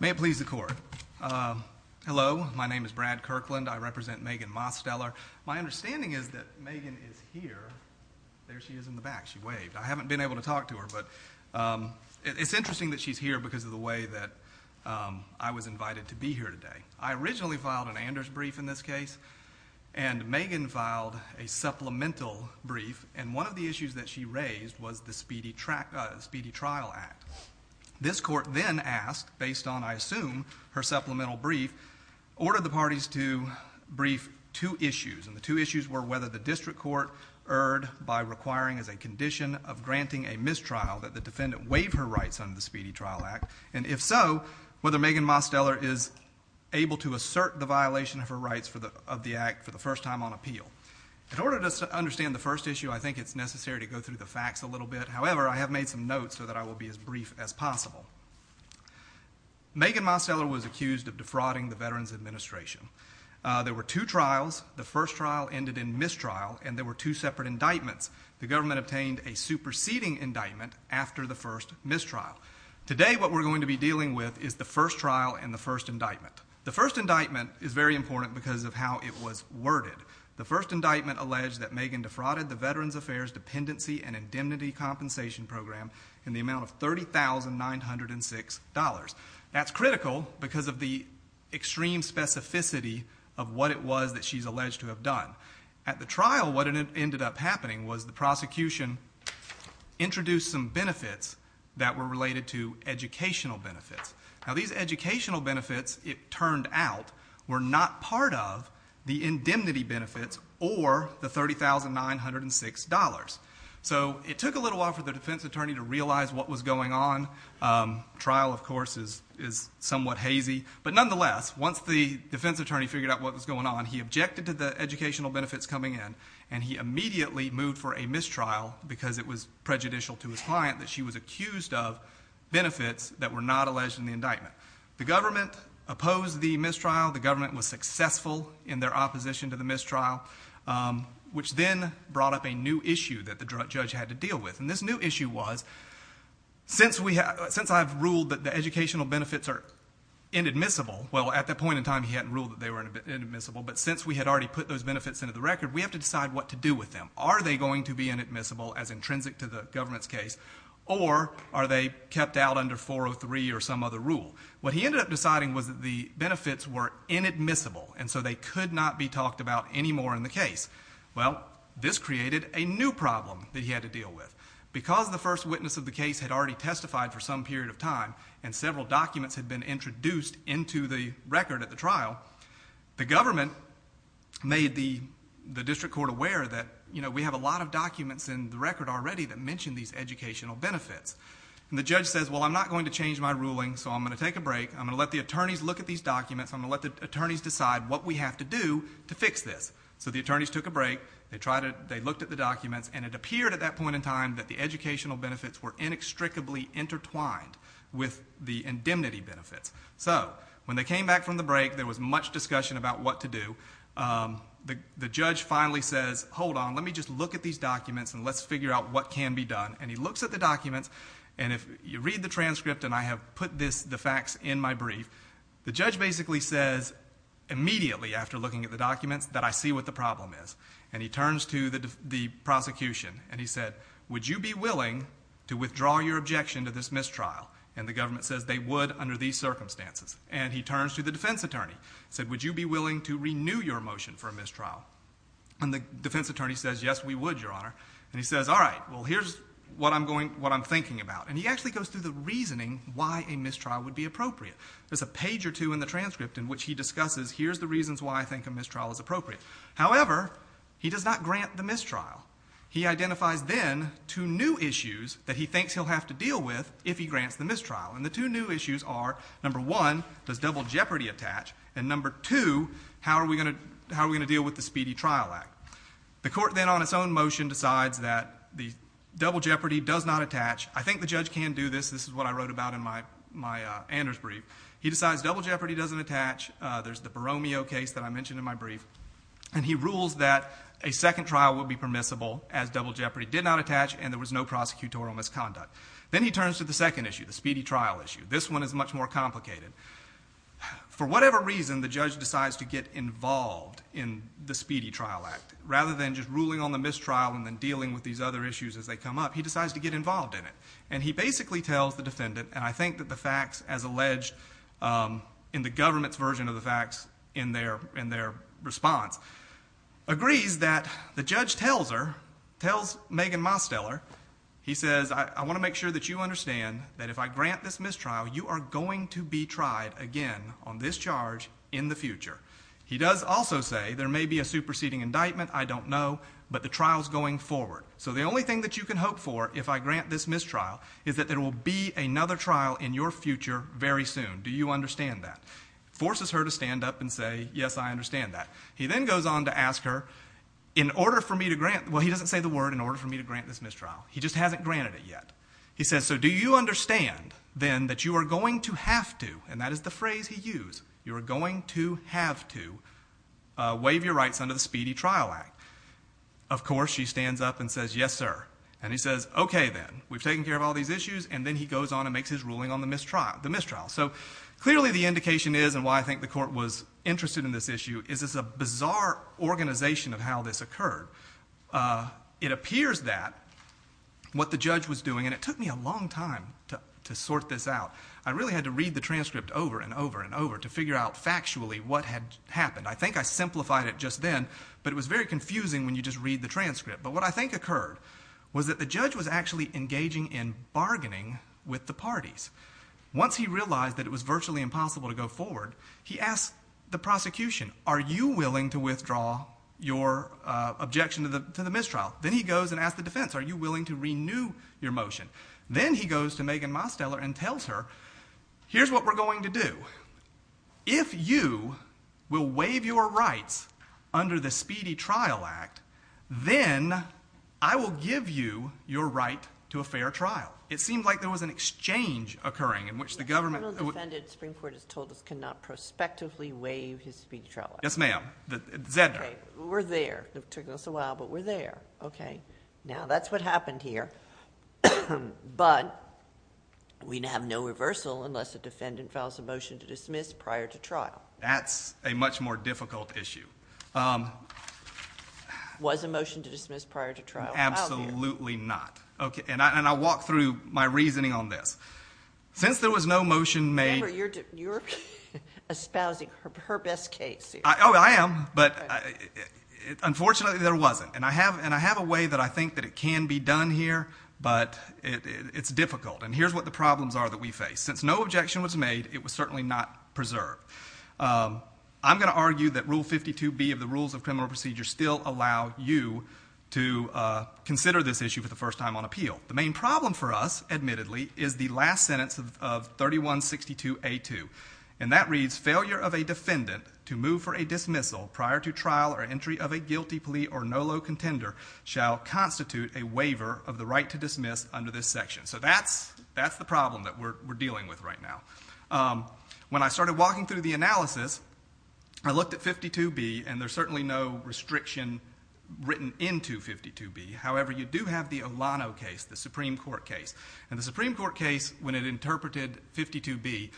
May it please the court, hello, my name is Brad Kirkland, I represent Megan Mosteller. My understanding is that Megan is here, there she is in the back, she waved. I haven't been able to talk to her but it's interesting that she's here because of the way that I was invited to be here today. I originally filed an Anders brief in this case and Megan filed a supplemental brief and one of the issues that she raised was the Speedy Trial Act. This court then asked, based on I assume her two issues were whether the district court erred by requiring as a condition of granting a mistrial that the defendant waive her rights under the Speedy Trial Act and if so whether Megan Mosteller is able to assert the violation of her rights for the of the act for the first time on appeal. In order to understand the first issue I think it's necessary to go through the facts a little bit however I have made some notes so that I will be as brief as possible. Megan Mosteller was accused of defrauding the Veterans Administration. There were two trials. The first trial ended in mistrial and there were two separate indictments. The government obtained a superseding indictment after the first mistrial. Today what we're going to be dealing with is the first trial and the first indictment. The first indictment is very important because of how it was worded. The first indictment alleged that Megan defrauded the Veterans Affairs Dependency and Indemnity Compensation Program in the amount of $30,906. That's critical because of the extreme specificity of what it was that she's alleged to have done. At the trial what ended up happening was the prosecution introduced some benefits that were related to educational benefits. Now these educational benefits it turned out were not part of the indemnity benefits or the $30,906. So it took a little while for the defense attorney to realize what was going on. Trial of course is somewhat hazy but nonetheless once the defense attorney figured out what was going on he objected to the educational benefits coming in and he immediately moved for a mistrial because it was prejudicial to his client that she was accused of benefits that were not alleged in the indictment. The government opposed the mistrial. The government was successful in their opposition to the mistrial which then brought up a new issue that the judge had to deal with and this new issue was since I've ruled that the educational benefits are inadmissible, well at that point in time he hadn't ruled that they were inadmissible, but since we had already put those benefits into the record we have to decide what to do with them. Are they going to be inadmissible as intrinsic to the government's case or are they kept out under 403 or some other rule? What he ended up deciding was that the benefits were inadmissible and so they created a new problem that he had to deal with. Because the first witness of the case had already testified for some period of time and several documents had been introduced into the record at the trial, the government made the district court aware that we have a lot of documents in the record already that mention these educational benefits. The judge says, well I'm not going to change my ruling so I'm going to take a break. I'm going to let the attorneys look at these documents. I'm going to let the attorneys decide what we have to do to fix this. So the attorneys took a break. They looked at the documents and it appeared at that point in time that the educational benefits were inextricably intertwined with the indemnity benefits. So when they came back from the break there was much discussion about what to do. The judge finally says, hold on, let me just look at these documents and let's figure out what can be done. And he looks at the documents and if you read the transcript and I have put the facts in my brief, the judge basically says immediately after looking at the documents that I see what the problem is. And he turns to the prosecution and he said, would you be willing to withdraw your objection to this mistrial? And the government says they would under these circumstances. And he turns to the defense attorney and said, would you be willing to renew your motion for a mistrial? And the defense attorney says, yes we would, your honor. And he says, all right, well here's what I'm thinking about. And he actually goes through the reasoning why a mistrial would be appropriate. There's a discussion in which he discusses here's the reasons why I think a mistrial is appropriate. However, he does not grant the mistrial. He identifies then two new issues that he thinks he'll have to deal with if he grants the mistrial. And the two new issues are, number one, does double jeopardy attach? And number two, how are we going to deal with the Speedy Trial Act? The court then on its own motion decides that the double jeopardy does not attach. I think the judge can do this. This is what I wrote about in my Anders brief. He decides double jeopardy doesn't attach. There's the Baromeo case that I mentioned in my brief. And he rules that a second trial would be permissible as double jeopardy did not attach and there was no prosecutorial misconduct. Then he turns to the second issue, the Speedy Trial Issue. This one is much more complicated. For whatever reason, the judge decides to get involved in the Speedy Trial Act. Rather than just ruling on the mistrial and then dealing with these other issues as they come up, he decides to get involved in it. And he basically tells the defendant, and I think that is alleged in the government's version of the facts in their response, agrees that the judge tells her, tells Megan Mosteller, he says, I want to make sure that you understand that if I grant this mistrial, you are going to be tried again on this charge in the future. He does also say there may be a superseding indictment, I don't know, but the trial's going forward. So the only thing that you can hope for if I grant this mistrial is that there will be another trial in your future very soon. Do you understand that? Forces her to stand up and say, yes, I understand that. He then goes on to ask her, in order for me to grant, well, he doesn't say the word, in order for me to grant this mistrial. He just hasn't granted it yet. He says, so do you understand then that you are going to have to, and that is the phrase he used, you are going to have to waive your rights under the Speedy Trial Act. Of course, she stands up and says, yes, sir. And he says, okay then. We've taken care of all these issues. And then he goes on and makes his mistrial. So clearly the indication is, and why I think the court was interested in this issue, is it's a bizarre organization of how this occurred. It appears that what the judge was doing, and it took me a long time to sort this out, I really had to read the transcript over and over and over to figure out factually what had happened. I think I simplified it just then, but it was very confusing when you just read the transcript. But what I think occurred was that the judge was actually engaging in bargaining with the parties. Once he realized that it was virtually impossible to go forward, he asked the prosecution, are you willing to withdraw your objection to the mistrial? Then he goes and asks the defense, are you willing to renew your motion? Then he goes to Megan Mosteller and tells her, here's what we're going to do. If you will waive your rights under the Speedy Trial Act, then I will give you your right to a fair trial. It seemed like there was an exchange occurring in which the government- The federal defendant, the Supreme Court has told us, cannot prospectively waive his Speedy Trial Act. Yes, ma'am. Zedner. We're there. It took us a while, but we're there. Okay. Now that's what happened here. But we have no reversal unless a defendant files a motion to dismiss prior to trial. That's a much more difficult issue. Was a motion to dismiss prior to trial? Absolutely not. Okay. And I walk through my reasoning on this. Since there was no motion made- Remember, you're espousing her best case here. Oh, I am. But unfortunately, there wasn't. And I have a way that I think that it can be done here, but it's difficult. And here's what the problems are that we face. Since no objection was made, it was certainly not preserved. I'm going to argue that Rule 52B of the Rules of Criminal Procedure still allow you to consider this issue for the first time on appeal. The main problem for us, admittedly, is the last sentence of 3162A2. And that reads, Failure of a defendant to move for a dismissal prior to trial or entry of a guilty plea or right to dismiss under this section. So that's the problem that we're dealing with right now. When I started walking through the analysis, I looked at 52B, and there's certainly no restriction written into 52B. However, you do have the Olano case, the Supreme Court case. And the Supreme Court case, when it interpreted 52B,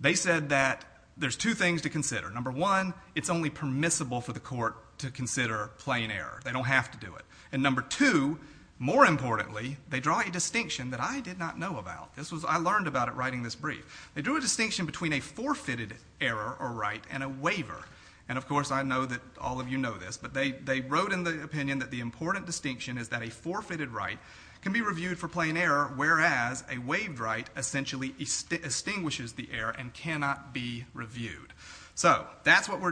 they said that there's two things to consider. Number one, it's only permissible for the court to consider plain error. They don't have to do it. And number two, more importantly, they draw a distinction that I did not know about. I learned about it writing this brief. They drew a distinction between a forfeited error or right and a waiver. And of course, I know that all of you know this, but they wrote in the opinion that the important distinction is that a forfeited right can be reviewed for plain error, whereas a waived right essentially extinguishes the error and cannot be reviewed. So that's what we're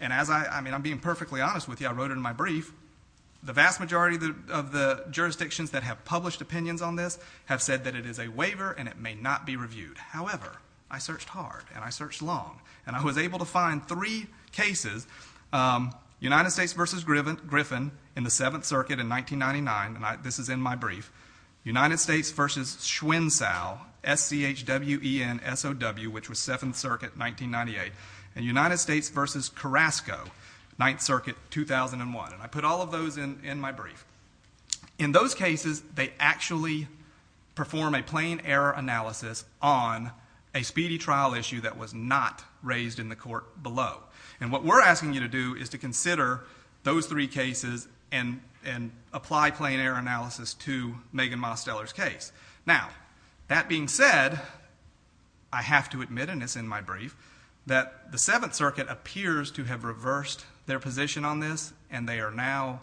And I'm being perfectly honest with you. I wrote it in my brief. The vast majority of the jurisdictions that have published opinions on this have said that it is a waiver and it may not be reviewed. However, I searched hard and I searched long, and I was able to find three cases, United States v. Griffin in the Seventh Circuit in 1999, and this is in my brief, United States v. Schwenzau, S-C-H-W-E-N-S-O-W, which was Seventh Circuit, 1998, and United States v. Carrasco, Ninth Circuit, 2001. And I put all of those in my brief. In those cases, they actually perform a plain error analysis on a speedy trial issue that was not raised in the court below. And what we're asking you to do is to consider those three cases and apply plain error analysis to Megan Mosteller's case. Now, that being said, I have to admit, and it's in my brief, that the Seventh Circuit appears to have reversed their position on this, and they are now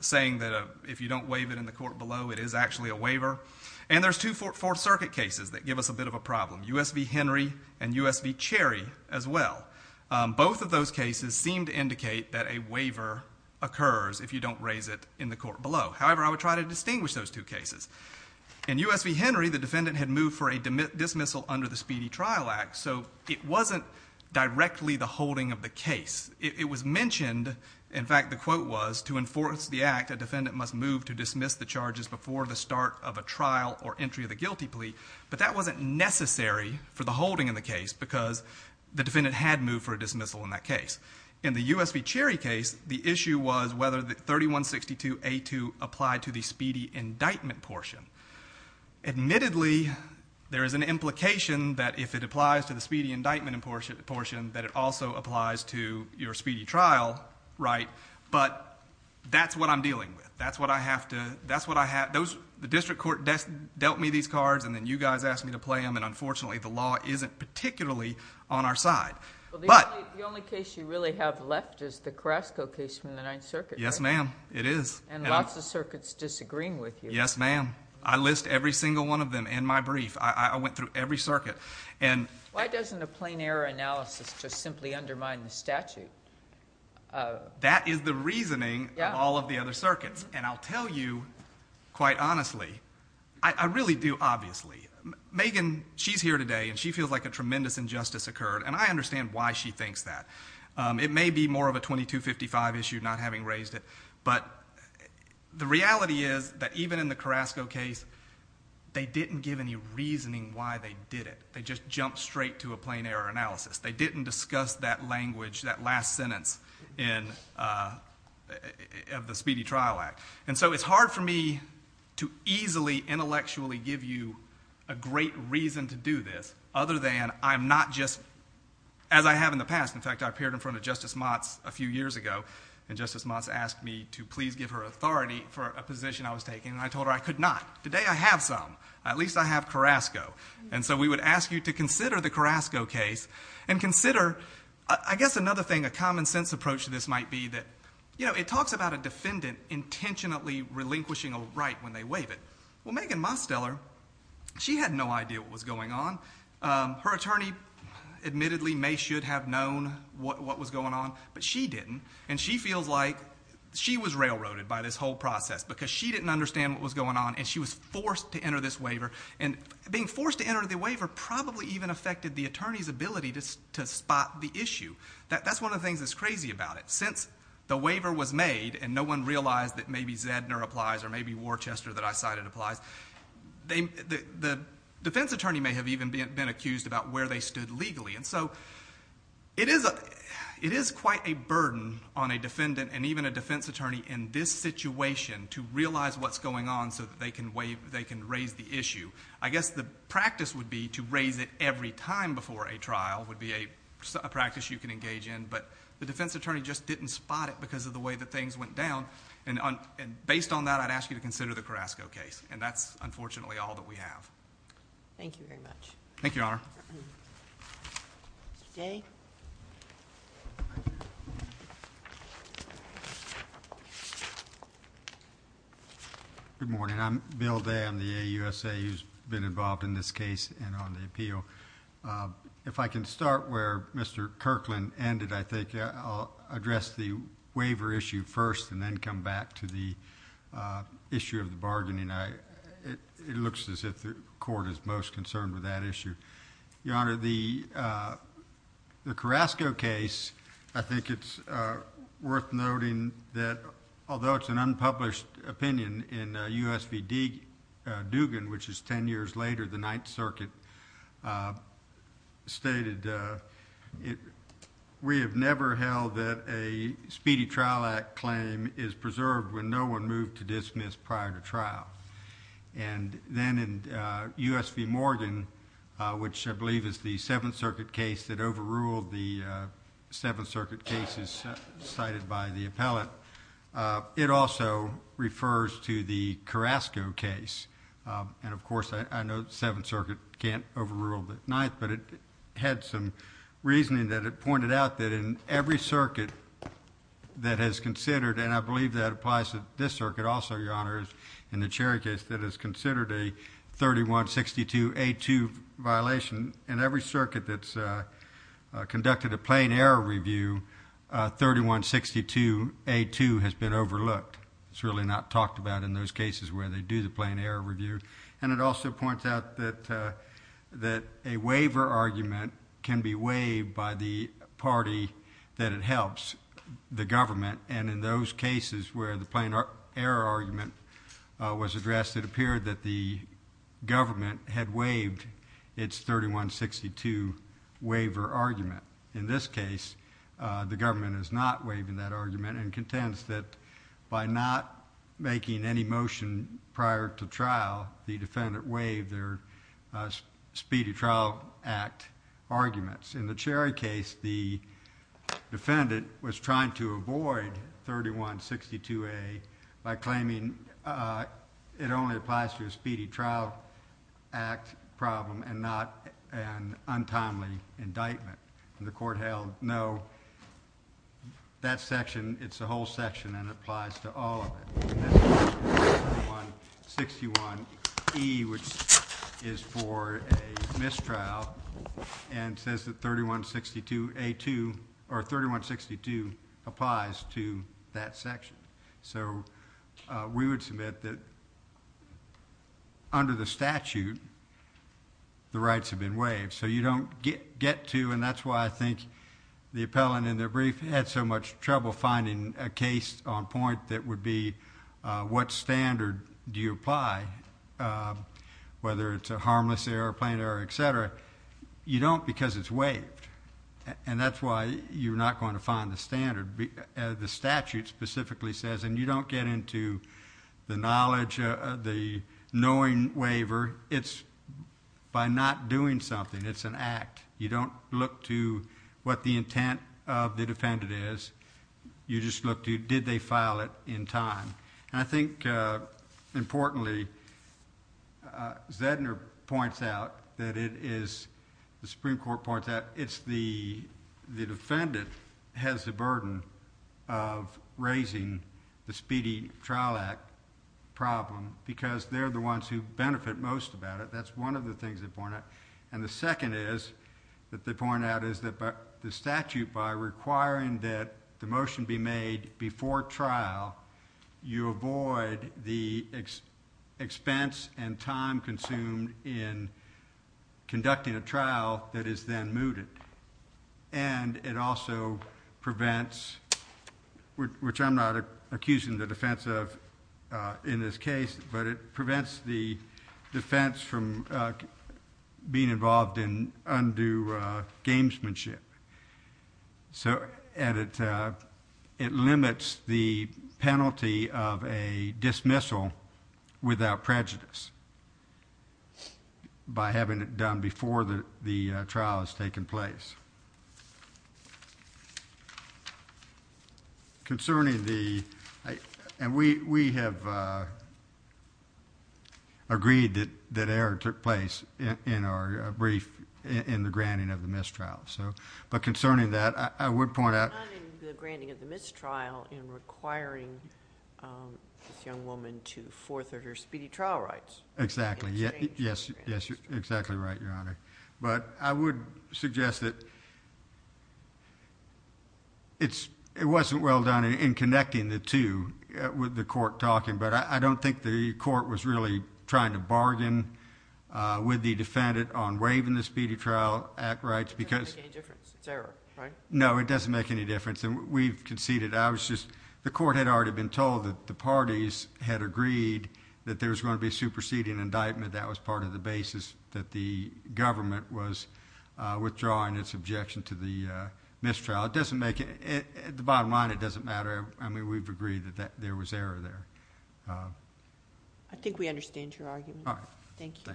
saying that if you don't waive it in the court below, it is actually a waiver. And there's two Fourth Circuit cases that give us a bit of a problem, U.S. v. Henry and U.S. v. Cherry as well. Both of those cases seem to indicate that a waiver occurs if you don't raise it in the court below. However, I would try to distinguish those two cases. In U.S. v. Henry, the defendant had moved for a dismissal under the Speedy Trial Act, so it wasn't directly the holding of the case. It was mentioned, in fact, the quote was, to enforce the act, a defendant must move to dismiss the charges before the start of a trial or entry of the guilty plea. But that wasn't necessary for the holding in the case because the defendant had moved for a dismissal in that case. In the U.S. v. Cherry case, the issue was whether the 3162A2 applied to the speedy indictment portion. Admittedly, there is an implication that if it applies to the speedy indictment portion, that it also applies to your speedy trial, right? But that's what I'm dealing with. That's what I have to, that's what I have, those, the district court dealt me these cards and then you guys asked me to play them, and unfortunately the law isn't particularly on our side. Well, the only case you really have left is the Carrasco case from the Ninth Circuit. Yes, ma'am, it is. And lots of circuits disagreeing with you. Yes, ma'am. I list every single one of them in my brief. I went through every circuit. And why doesn't a plain error analysis just simply undermine the statute? That is the reasoning of all of the other circuits. And I'll tell you, quite honestly, I really do, obviously. Megan, she's here today and she feels like a tremendous injustice occurred, and I understand why she thinks that. It may be more of a 2255 issue, not having raised it, but the reality is that even in the Carrasco case, they didn't give any reasoning why they did it. They just jumped straight to a plain error analysis. They didn't discuss that language, that last sentence of the Speedy Trial Act. And so it's hard for me to easily, intellectually give you a great reason to do this, other than I'm not just, as I have in the past, in fact, I appeared in front of Justice Motts a few years ago, and Justice Motts asked me to please give her authority for a position I was taking. And I told her I could not. Today I have some. At least I have Carrasco. And so we would ask you to consider the Carrasco case and consider, I guess another thing, a common sense approach to this might be that, you know, it talks about a defendant intentionally relinquishing a right when they waive it. Well, Megan Mosteller, she had no idea what was going on. Her attorney admittedly may have known what was going on, but she didn't. And she feels like she was railroaded by this whole process because she didn't understand what was going on and she was forced to enter this waiver. And being forced to enter the waiver probably even affected the attorney's ability to spot the issue. That's one of the things that's crazy about it. Since the waiver was made and no one realized that maybe Zedner applies or maybe Worchester that I cited applies, the defense attorney may have even been accused about where they stood legally. And so it is quite a burden on a defendant and even a defense attorney in this situation to realize what's going on so that they can raise the issue. I guess the practice would be to raise it every time before a trial would be a practice you can engage in. But the defense attorney just didn't spot it because of the way that things went down. And based on that, I'd ask you to consider the Carrasco case. And that's unfortunately all that we have. Thank you very much. Thank you, Your Honor. Good morning. I'm Bill Day. I'm the AUSA who's been involved in this case and on the appeal. If I can start where Mr. Kirkland ended, I think I'll address the waiver issue first and then come back to the issue of the bargaining. It looks as if the court is most concerned with that issue. Your Honor, the Carrasco case, I think it's worth noting that although it's an unpublished opinion in USVD Dugan, which is 10 years later, the Ninth Circuit, stated, we have never held that a Speedy Trial Act claim is preserved when no one moved to dismiss prior to trial. And then in USV Morgan, which I believe is the Seventh Circuit case that overruled the Seventh Circuit cases cited by the appellate, it also refers to the Carrasco case. And of course, I know the Seventh Circuit can't overrule the Ninth, but it had some reasoning that it pointed out that in every circuit that has considered, and I believe that applies to this circuit also, Your Honor, in the Cherry case that is considered a 3162A2 violation, in every circuit that's conducted a plain error review, 3162A2 has been overlooked. It's really not talked about in those cases where they do the plain error review. And it also points out that a waiver argument can be waived by the party that it helps, the government. And in those cases where the plain error argument was addressed, it appeared that the government had waived its 3162 waiver argument. In this case, the government is not making any motion prior to trial. The defendant waived their Speedy Trial Act arguments. In the Cherry case, the defendant was trying to avoid 3162A by claiming it only applies to a Speedy Trial Act problem and not an untimely indictment. And the court held no, that section, it's a whole section, and it applies to all of it. 3161E, which is for a mistrial, and says that 3162A2, or 3162 applies to that section. So we would submit that under the statute, the rights have been waived. So you don't get to, and that's why I think the appellant in their point that would be what standard do you apply, whether it's a harmless error, plain error, etc., you don't because it's waived. And that's why you're not going to find the standard. The statute specifically says, and you don't get into the knowledge, the knowing waiver, it's by not doing something. It's an act. You don't look to what the intent of the defendant is. You just look to did they file it in time. And I think importantly, Zedner points out that it is, the Supreme Court points out, it's the defendant has the burden of raising the Speedy Trial Act problem because they're the ones who benefit most about it. That's one of the things they point out. And the second is that they point out is that the statute by requiring that the motion be made before trial, you avoid the expense and time consumed in conducting a trial that is then mooted. And it also prevents, which I'm not accusing the defense of in this case, but it being involved in undue gamesmanship. And it limits the penalty of a dismissal without prejudice by having it done before the trial has taken place. Thank you. Concerning the, and we have agreed that error took place in our brief in the granting of the mistrial. So, but concerning that, I would point out. Not in the granting of the mistrial in requiring this young woman to forfeit her speedy trial rights. Exactly. Yes. Yes, you're exactly right, Your Honor. But I would suggest that it's, it wasn't well done in connecting the two with the court talking, but I don't think the court was really trying to bargain with the defendant on waiving the Speedy Trial Act rights because it doesn't make any difference. And we've conceded, I was just, the court had been told that the parties had agreed that there was going to be a superseding indictment. That was part of the basis that the government was withdrawing its objection to the mistrial. It doesn't make it, at the bottom line, it doesn't matter. I mean, we've agreed that there was error there. I think we understand your argument. Thank you.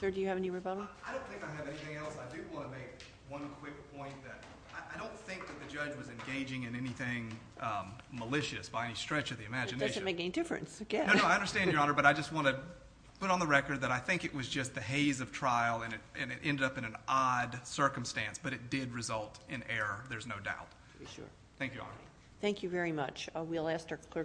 Sir, do you have any rebuttal? I don't think I have anything else. I do want to make one quick point that I don't think that the malicious by any stretch of the imagination. It doesn't make any difference. I understand, Your Honor, but I just want to put on the record that I think it was just the haze of trial and it ended up in an odd circumstance, but it did result in error. There's no doubt. Thank you, Your Honor. Thank you very much. We'll ask our clerk.